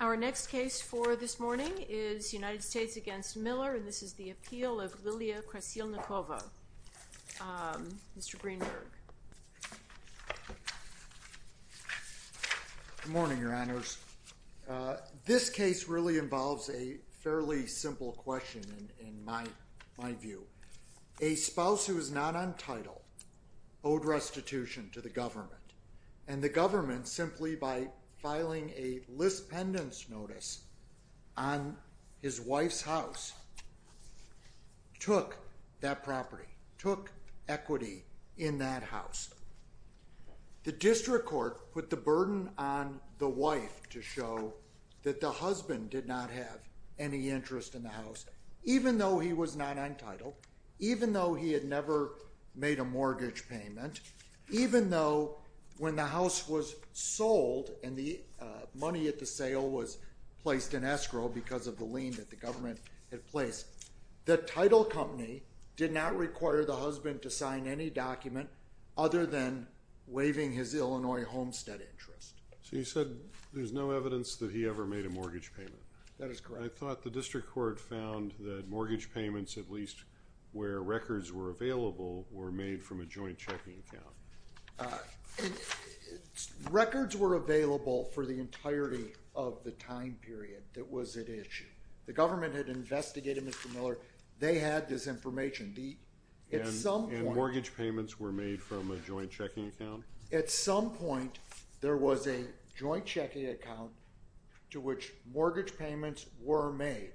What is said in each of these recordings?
Our next case for this morning is United States v. Miller, and this is the appeal of Liliya Krasilnikova. Mr. Greenberg. Good morning, Your Honors. This case really involves a fairly simple question, in my view. A spouse who is not on title owed restitution to the government, and the government, simply by filing a lispendence notice on his wife's house, took that property, took equity in that house. The district court put the burden on the wife to show that the husband did not have any interest in the house, even though he was not on title, even though he had never made a mortgage payment, even though when the house was sold and the money at the sale was placed in escrow because of the lien that the government had placed, the title company did not require the husband to sign any document other than waiving his Illinois homestead interest. So you said there's no evidence that he ever made a mortgage payment. That is correct. I thought the district court found that mortgage payments, at least where records were available, were made from a joint checking account. Records were available for the entirety of the time period that was at issue. The government had investigated Mr. Miller. They had this information. Mortgage payments were made from a joint checking account? At some point there was a joint checking account to which mortgage payments were made,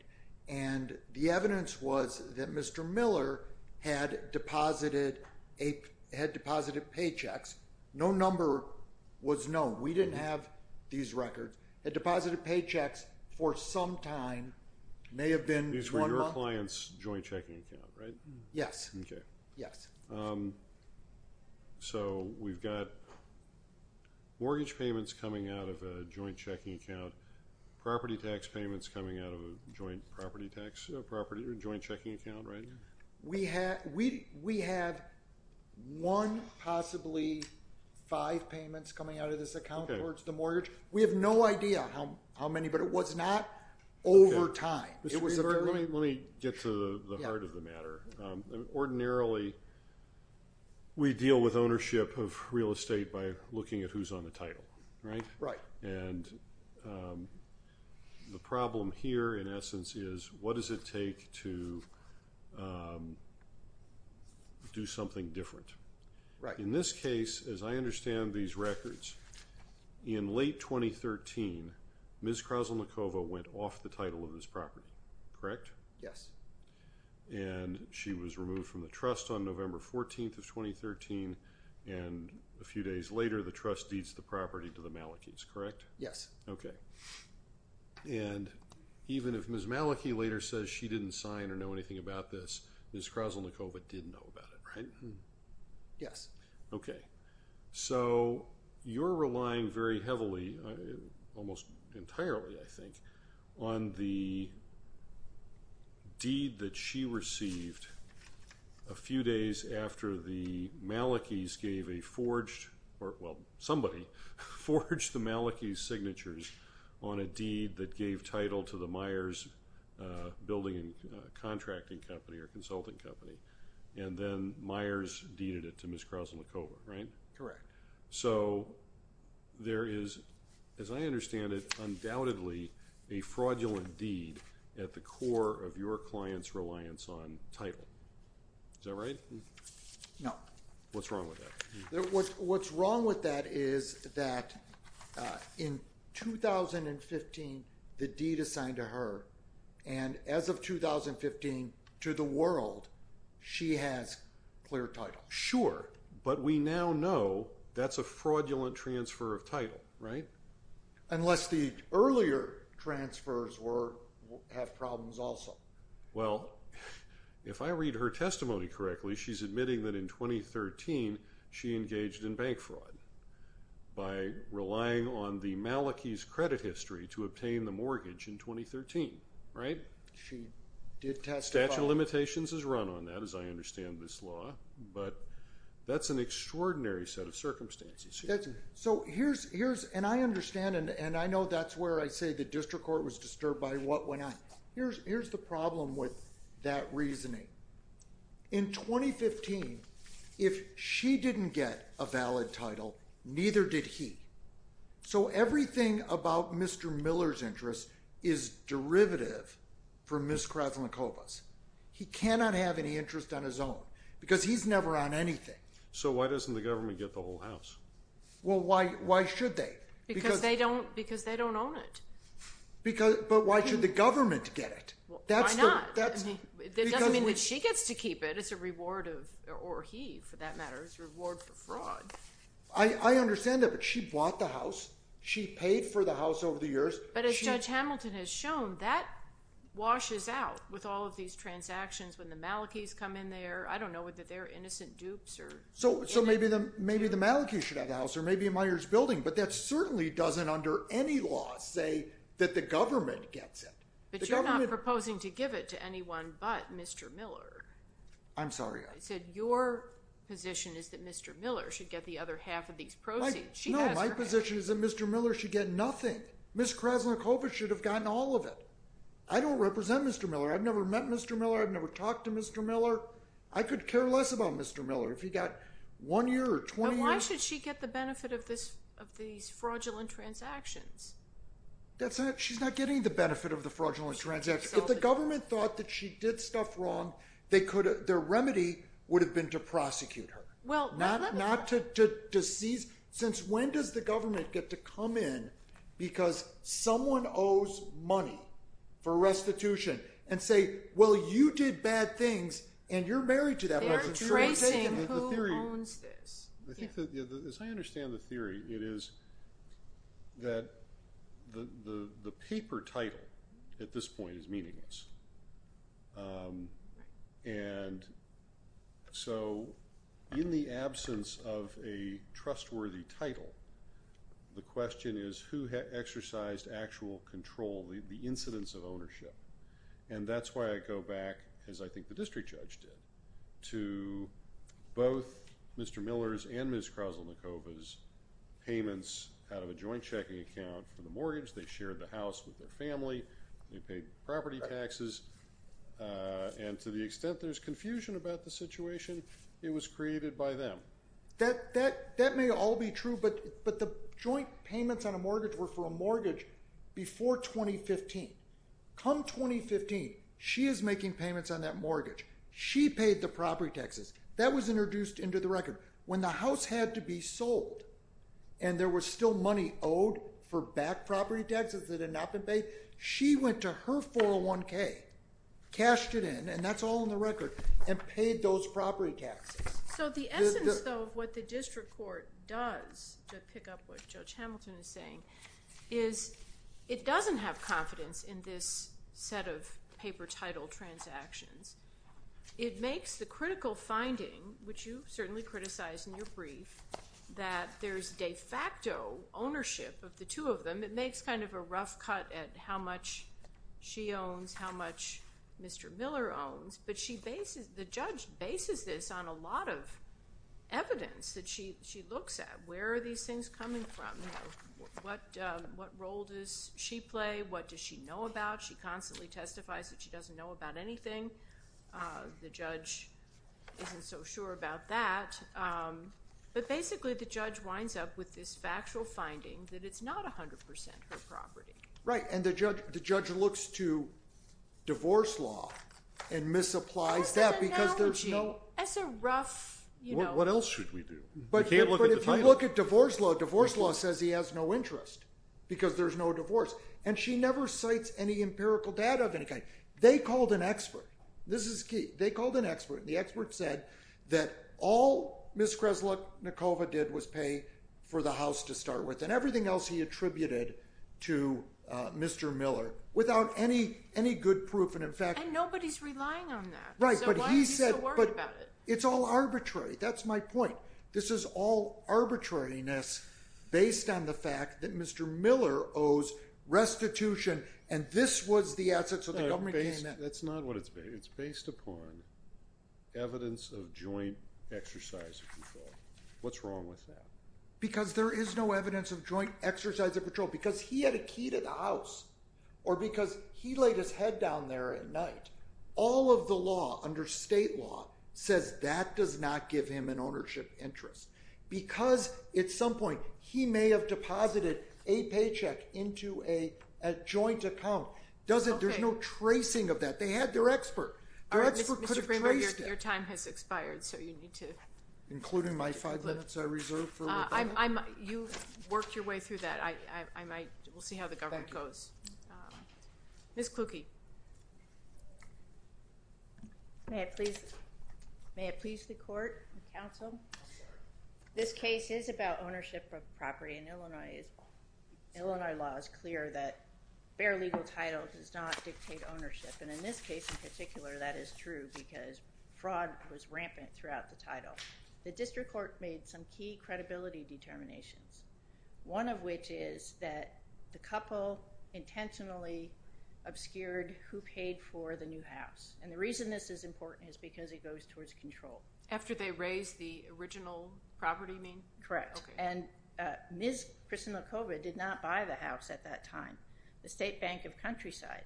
and the evidence was that Mr. Miller had deposited paychecks. No number was known. We didn't have these records. He had deposited paychecks for some time. These were your client's joint checking account, right? Yes. So we've got mortgage payments coming out of a joint checking account, property tax payments coming out of a joint checking account, right? We have one, possibly five payments coming out of this account towards the mortgage. We have no idea how many, but it was not over time. Let me get to the heart of the matter. Ordinarily, we deal with ownership of real estate by looking at who's on the title. The problem here, in essence, is what does it take to do something different? In this case, as I understand these records, in late 2013, Ms. Krasilnikova went off the property, correct? Yes. She was removed from the trust on November 14th of 2013, and a few days later the trust deeds the property to the Malikys, correct? Yes. Even if Ms. Maliky later says she didn't sign or know anything about this, Ms. Krasilnikova did know about it, right? Yes. Okay, so you're relying very heavily, almost entirely I think, on the deed that she received a few days after the Malikys gave a forged, or well, somebody forged the Malikys' signatures on a deed that gave title to the Myers Building and Contracting Company or Consulting Company, and then Myers deeded it to Ms. Krasilnikova, right? Correct. So, there is, as I understand it, undoubtedly a fraudulent deed at the core of your client's reliance on title. Is that right? No. What's wrong with that? What's wrong with that is that in 2015 the deed assigned to her, and as of 2015 to the world, she has clear title. Sure, but we now know that's a fraudulent transfer of title, right? Unless the earlier transfers have problems also. Well, if I read her testimony correctly, she's admitting that in 2013 she engaged in bank fraud by relying on the Malikys' credit history to obtain the mortgage in 2013, right? She did testify. The statute of limitations has run on that, as I understand this law, but that's an extraordinary set of circumstances. I understand, and I know that's where I say the district court was disturbed by what went on. Here's the problem with that reasoning. In 2015, if she didn't get a valid title, neither did he. So, everything about Mr. Miller's interest is derivative for Ms. Krasilnikova's. He cannot have any interest on his own, because he's never on anything. So why doesn't the government get the whole house? Well, why should they? Because they don't own it. But why should the government get it? Why not? It doesn't mean that she gets to keep it. It's a reward of, or he, for that matter. It's a reward for fraud. I understand that, but she bought the house. She paid for the house over the years. But as Judge Hamilton has shown, that washes out with all of these transactions when the Malikis come in there. I don't know whether they're innocent dupes or... So maybe the Malikis should have the house, or maybe Meijer's building, but that certainly doesn't, under any law, say that the government gets it. But you're not proposing to give it to anyone but Mr. Miller. I'm sorry, Your Honor. Your position is that Mr. Miller should get the other half of these proceeds. No, my position is that Mr. Miller should get nothing. Ms. Krasnikova should have gotten all of it. I don't represent Mr. Miller. I've never met Mr. Miller. I've never talked to Mr. Miller. I could care less about Mr. Miller. If he got one year or 20 years... But why should she get the benefit of these fraudulent transactions? She's not getting the benefit of the fraudulent transactions. If the government thought that she did stuff wrong, their remedy would have been to prosecute her. Not to seize... Since when does the government get to come in because someone owes money for restitution and say, well, you did bad things, and you're married to that person. They're tracing who owns this. As I understand the theory, it is that the paper title at this point is meaningless. And so, in the absence of a trustworthy title, the question is who exercised actual control, the incidence of ownership. And that's why I go back, as I think the district judge did, to both Mr. Miller's and Ms. Krasnikova's payments out of a joint checking account for the mortgage. They shared the house with their family. They paid property taxes. And to the extent there's confusion about the situation, it was created by them. That may all be true, but the joint payments on a mortgage were for a mortgage before 2015. Come 2015, she is making payments on that mortgage. She paid the property taxes. That was introduced into the record. When the house had to be sold, and there was still money owed for back property taxes that she went to her 401k, cashed it in, and that's all in the record, and paid those property taxes. So the essence, though, of what the district court does, to pick up what Judge Hamilton is saying, is it doesn't have confidence in this set of paper title transactions. It makes the critical finding, which you certainly criticized in your brief, that there's de facto ownership of the two of them. And it makes kind of a rough cut at how much she owns, how much Mr. Miller owns. But the judge bases this on a lot of evidence that she looks at. Where are these things coming from? What role does she play? What does she know about? She constantly testifies that she doesn't know about anything. The judge isn't so sure about that. But basically, the judge winds up with this factual finding that it's not 100% her property. Right, and the judge looks to divorce law and misapplies that because there's no- That's an analogy. That's a rough- What else should we do? But if you look at divorce law, divorce law says he has no interest because there's no divorce. And she never cites any empirical data of any kind. They called an expert. This is key. They called an expert. The expert said that all Ms. Kreslick-Nikova did was pay for the house to start with. And everything else he attributed to Mr. Miller without any good proof. And in fact- And nobody's relying on that. Right, but he said- So why is he so worried about it? It's all arbitrary. That's my point. This is all arbitrariness based on the fact that Mr. Miller owes restitution. And this was the asset. So the government came in- That's not what it's based. It's based upon evidence of joint exercise of control. What's wrong with that? Because there is no evidence of joint exercise of control. Because he had a key to the house. Or because he laid his head down there at night. All of the law under state law says that does not give him an ownership interest. Because at some point he may have deposited a paycheck into a joint account. There's no tracing of that. They had their expert. Their expert could have traced it. All right, Mr. Kramer, your time has expired. So you need to- Including my five minutes I reserve for- You worked your way through that. I might- We'll see how the government goes. Thank you. Ms. Klucke. May it please the court and counsel? I'm sorry. This case is about ownership of property in Illinois. Illinois law is clear that bare legal title does not dictate ownership. And in this case in particular, that is true. Because fraud was rampant throughout the title. The district court made some key credibility determinations. One of which is that the couple intentionally obscured who paid for the new house. And the reason this is important is because it goes towards control. After they raised the original property, you mean? Correct. Okay. And Ms. Kristin Lukova did not buy the house at that time. The State Bank of Countryside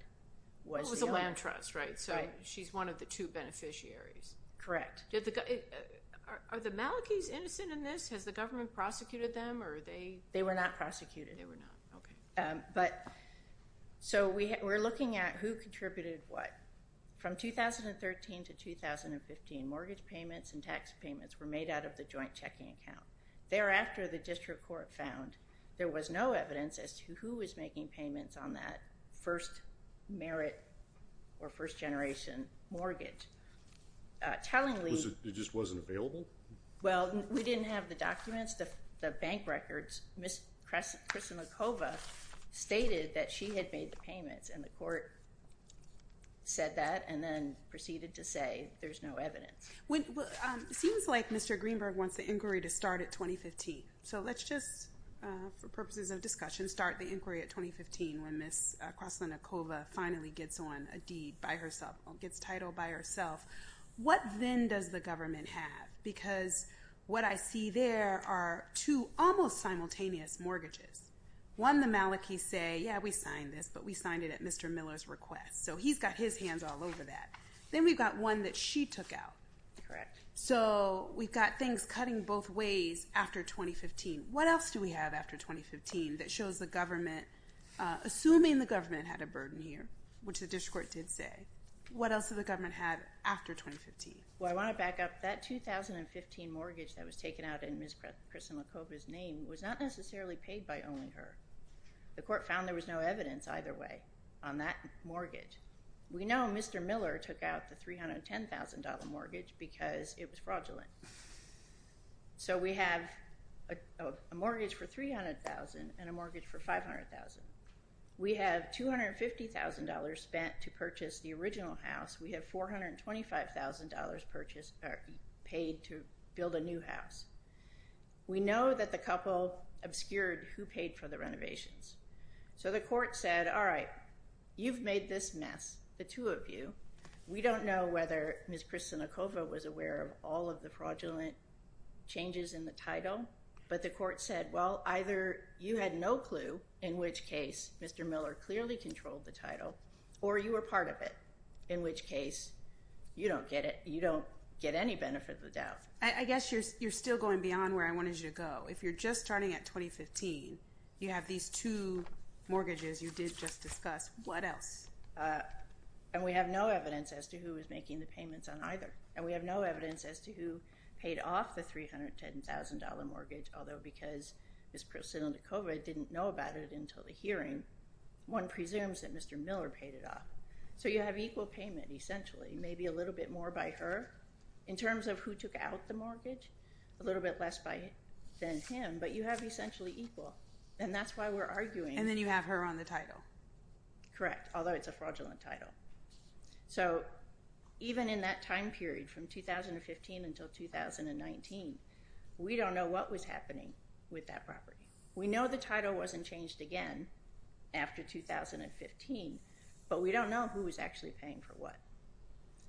was the owner. The land trust, right? So she's one of the two beneficiaries. Correct. Are the Malikis innocent in this? Has the government prosecuted them or are they- They were not prosecuted. They were not. Okay. So we're looking at who contributed what. From 2013 to 2015, mortgage payments and tax payments were made out of the joint checking account. Thereafter, the district court found there was no evidence as to who was making payments on that first merit or first generation mortgage. Tellingly- It just wasn't available? Well, we didn't have the documents. The bank records, Ms. Kristin Lukova stated that she had made the payments. And the court said that and then proceeded to say there's no evidence. It seems like Mr. Greenberg wants the inquiry to start at 2015. So let's just, for purposes of discussion, start the inquiry at 2015 when Ms. Kristin Lukova finally gets on a deed by herself, gets title by herself. What then does the government have? Because what I see there are two almost simultaneous mortgages. One, the Malikis say, yeah, we signed this, but we signed it at Mr. Miller's request. So he's got his hands all over that. Then we've got one that she took out. Correct. So we've got things cutting both ways after 2015. What else do we have after 2015 that shows the government, assuming the government had a burden here, which the district court did say, what else did the government have after 2015? Well, I want to back up. That 2015 mortgage that was taken out in Ms. Kristin Lukova's name was not necessarily paid by only her. The court found there was no evidence either way on that mortgage. We know Mr. Miller took out the $310,000 mortgage because it was fraudulent. So we have a mortgage for $300,000 and a mortgage for $500,000. We have $250,000 spent to purchase the original house. We have $425,000 paid to build a new house. We know that the couple obscured who paid for the renovations. So the court said, all right, you've made this mess, the two of you. We don't know whether Ms. Kristin Lukova was aware of all of the fraudulent changes in the title. But the court said, well, either you had no clue in which case Mr. Miller clearly controlled the title or you were part of it, in which case you don't get it. You don't get any benefit of the doubt. I guess you're still going beyond where I wanted you to go. If you're just starting at 2015, you have these two mortgages you did just discuss, what else? And we have no evidence as to who was making the payments on either. And we have no evidence as to who paid off the $310,000 mortgage, although because Ms. Kristin Lukova didn't know about it until the hearing, one presumes that Mr. Miller paid it off. So you have equal payment, essentially, maybe a little bit more by her in terms of who took out the mortgage, a little bit less than him. But you have essentially equal. And that's why we're arguing. And then you have her on the title. Correct, although it's a fraudulent title. So even in that time period from 2015 until 2019, we don't know what was happening with that property. We know the title wasn't changed again after 2015. But we don't know who was actually paying for what.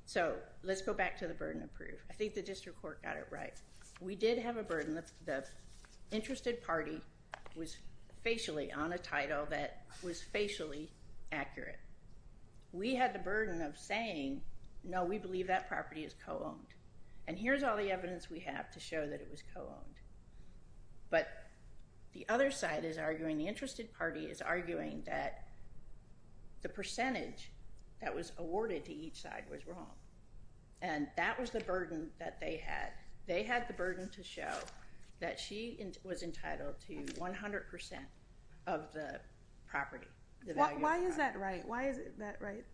So let's go back to the burden of proof. I think the district court got it right. We did have a burden. The interested party was facially on a title that was facially accurate. We had the burden of saying, no, we believe that property is co-owned. But the other side is arguing, the interested party is arguing that the percentage that was awarded to each side was wrong. And that was the burden that they had. They had the burden to show that she was entitled to 100% of the property. Why is that right? Why is that right?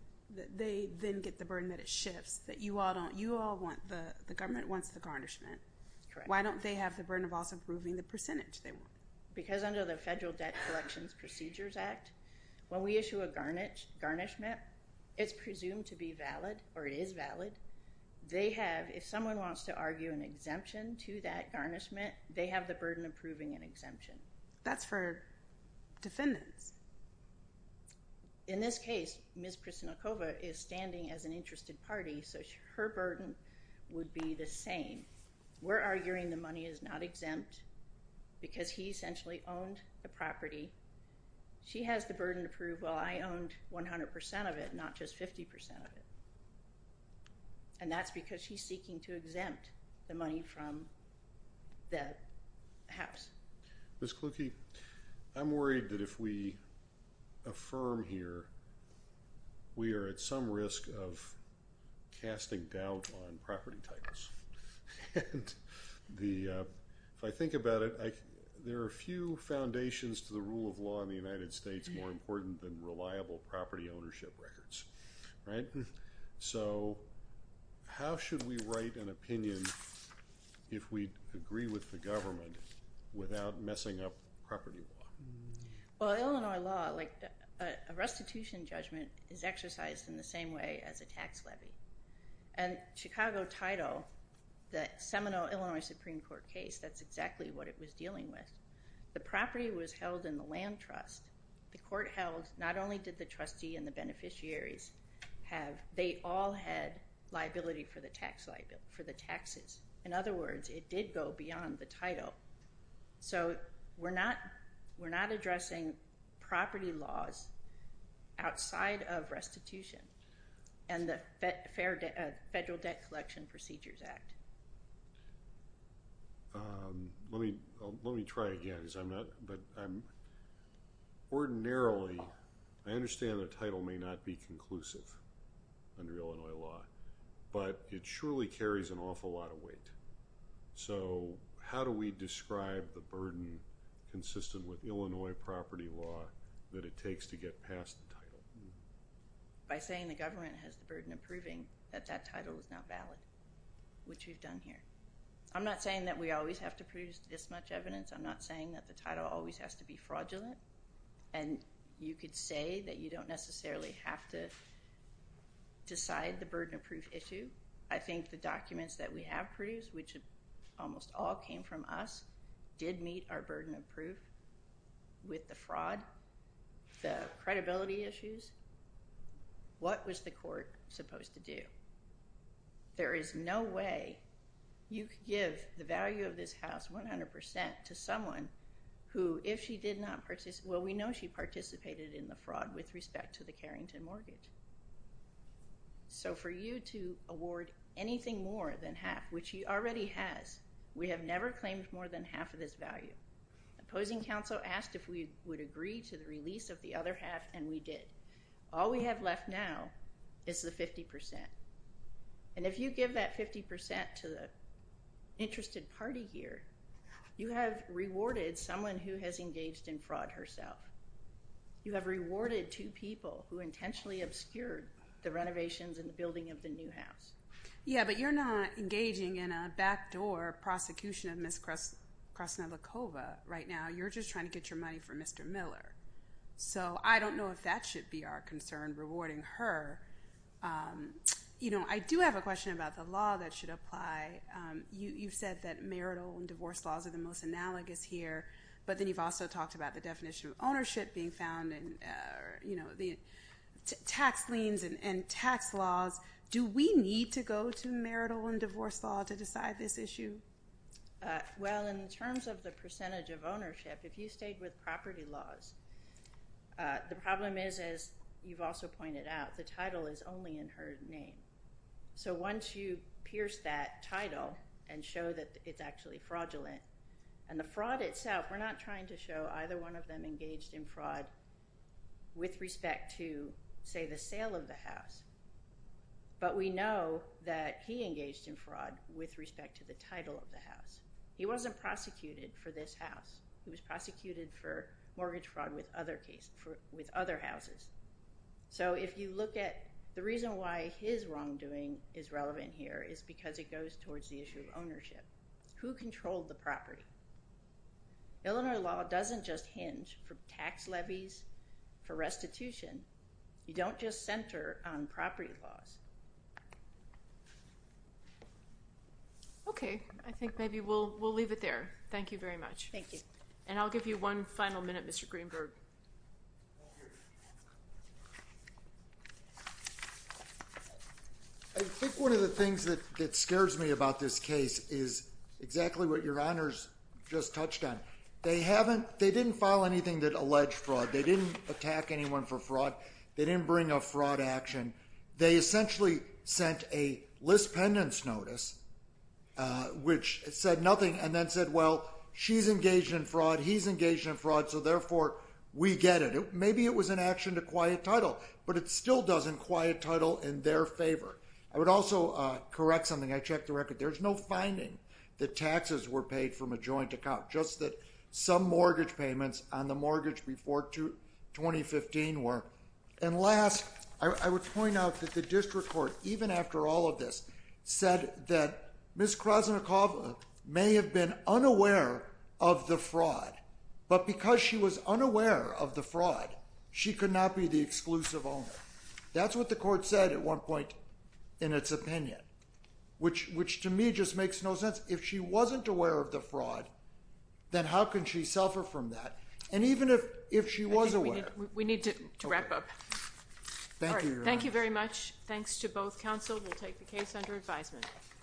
They then get the burden that it shifts, that you all want, the government wants the garnishment. Why don't they have the burden of also proving the percentage they want? Because under the Federal Debt Collections Procedures Act, when we issue a garnishment, it's presumed to be valid, or it is valid. They have, if someone wants to argue an exemption to that garnishment, they have the burden of proving an exemption. That's for defendants. In this case, Ms. Krasnikova is standing as an interested party, so her burden would be the same. We're arguing the money is not exempt because he essentially owned the property. She has the burden to prove, well, I owned 100% of it, not just 50% of it. And that's because she's seeking to exempt the money from the house. Ms. Klucke, I'm worried that if we affirm here, we are at some risk of casting doubt on property titles. If I think about it, there are few foundations to the rule of law in the United States more important than reliable property ownership records. So how should we write an opinion if we agree with the government without messing up property law? Well, Illinois law, like a restitution judgment, is exercised in the same way as a tax levy. And Chicago title, the Seminole, Illinois Supreme Court case, that's exactly what it was dealing with. The property was held in the land trust. The court held, not only did the trustee and the beneficiaries have, they all had liability for the taxes. In other words, it did go beyond the title. So we're not addressing property laws outside of restitution and the Federal Debt Collection Procedures Act. Let me try again because I'm not, but ordinarily, I understand the title may not be conclusive under Illinois law. But it surely carries an awful lot of weight. So how do we describe the burden consistent with Illinois property law that it takes to get past the title? By saying the government has the burden of proving that that title is not valid, which we've done here. I'm not saying that we always have to produce this much evidence. I'm not saying that the title always has to be fraudulent. And you could say that you don't necessarily have to decide the burden of proof issue. I think the documents that we have produced, which almost all came from us, did meet our burden of proof with the fraud, the credibility issues. What was the court supposed to do? There is no way you could give the value of this house 100% to someone who, if she did not participate, well, we know she participated in the fraud with respect to the Carrington mortgage. So for you to award anything more than half, which she already has, we have never claimed more than half of this value. Opposing counsel asked if we would agree to the release of the other half, and we did. All we have left now is the 50%. And if you give that 50% to the interested party here, you have rewarded someone who has engaged in fraud herself. You have rewarded two people who intentionally obscured the renovations and the building of the new house. Yeah, but you're not engaging in a backdoor prosecution of Ms. Krasnodlikova right now. You're just trying to get your money from Mr. Miller. So I don't know if that should be our concern, rewarding her. You know, I do have a question about the law that should apply. You've said that marital and divorce laws are the most analogous here, but then you've also talked about the definition of ownership being found and, you know, the tax liens and tax laws. Do we need to go to marital and divorce law to decide this issue? Well, in terms of the percentage of ownership, if you stayed with property laws, the problem is, as you've also pointed out, the title is only in her name. So once you pierce that title and show that it's actually fraudulent, and the fraud itself, we're not trying to show either one of them engaged in fraud with respect to, say, the sale of the house. But we know that he engaged in fraud with respect to the title of the house. He wasn't prosecuted for this house. He was prosecuted for mortgage fraud with other houses. So if you look at the reason why his wrongdoing is relevant here is because it goes towards the issue of ownership. Who controlled the property? Illinois law doesn't just hinge for tax levies, for restitution. You don't just center on property laws. Okay, I think maybe we'll leave it there. Thank you very much. Thank you. And I'll give you one final minute, Mr. Greenberg. Thank you. I think one of the things that scares me about this case is exactly what Your Honors just touched on. They didn't file anything that alleged fraud. They didn't attack anyone for fraud. They didn't bring a fraud action. They essentially sent a list pendants notice, which said nothing, and then said, well, she's engaged in fraud, he's engaged in fraud, so therefore we get it. Maybe it was an action to quiet title, but it still doesn't quiet title in their favor. I would also correct something. I checked the record. There's no finding that taxes were paid from a joint account, just that some mortgage payments on the mortgage before 2015 were. And last, I would point out that the district court, even after all of this, said that Ms. Krasnikova may have been unaware of the fraud, but because she was unaware of the fraud, she could not be the exclusive owner. That's what the court said at one point in its opinion, which to me just makes no sense. If she wasn't aware of the fraud, then how can she suffer from that? And even if she was aware. We need to wrap up. Thank you. Thank you very much. Thanks to both counsel. We'll take the case under advisement.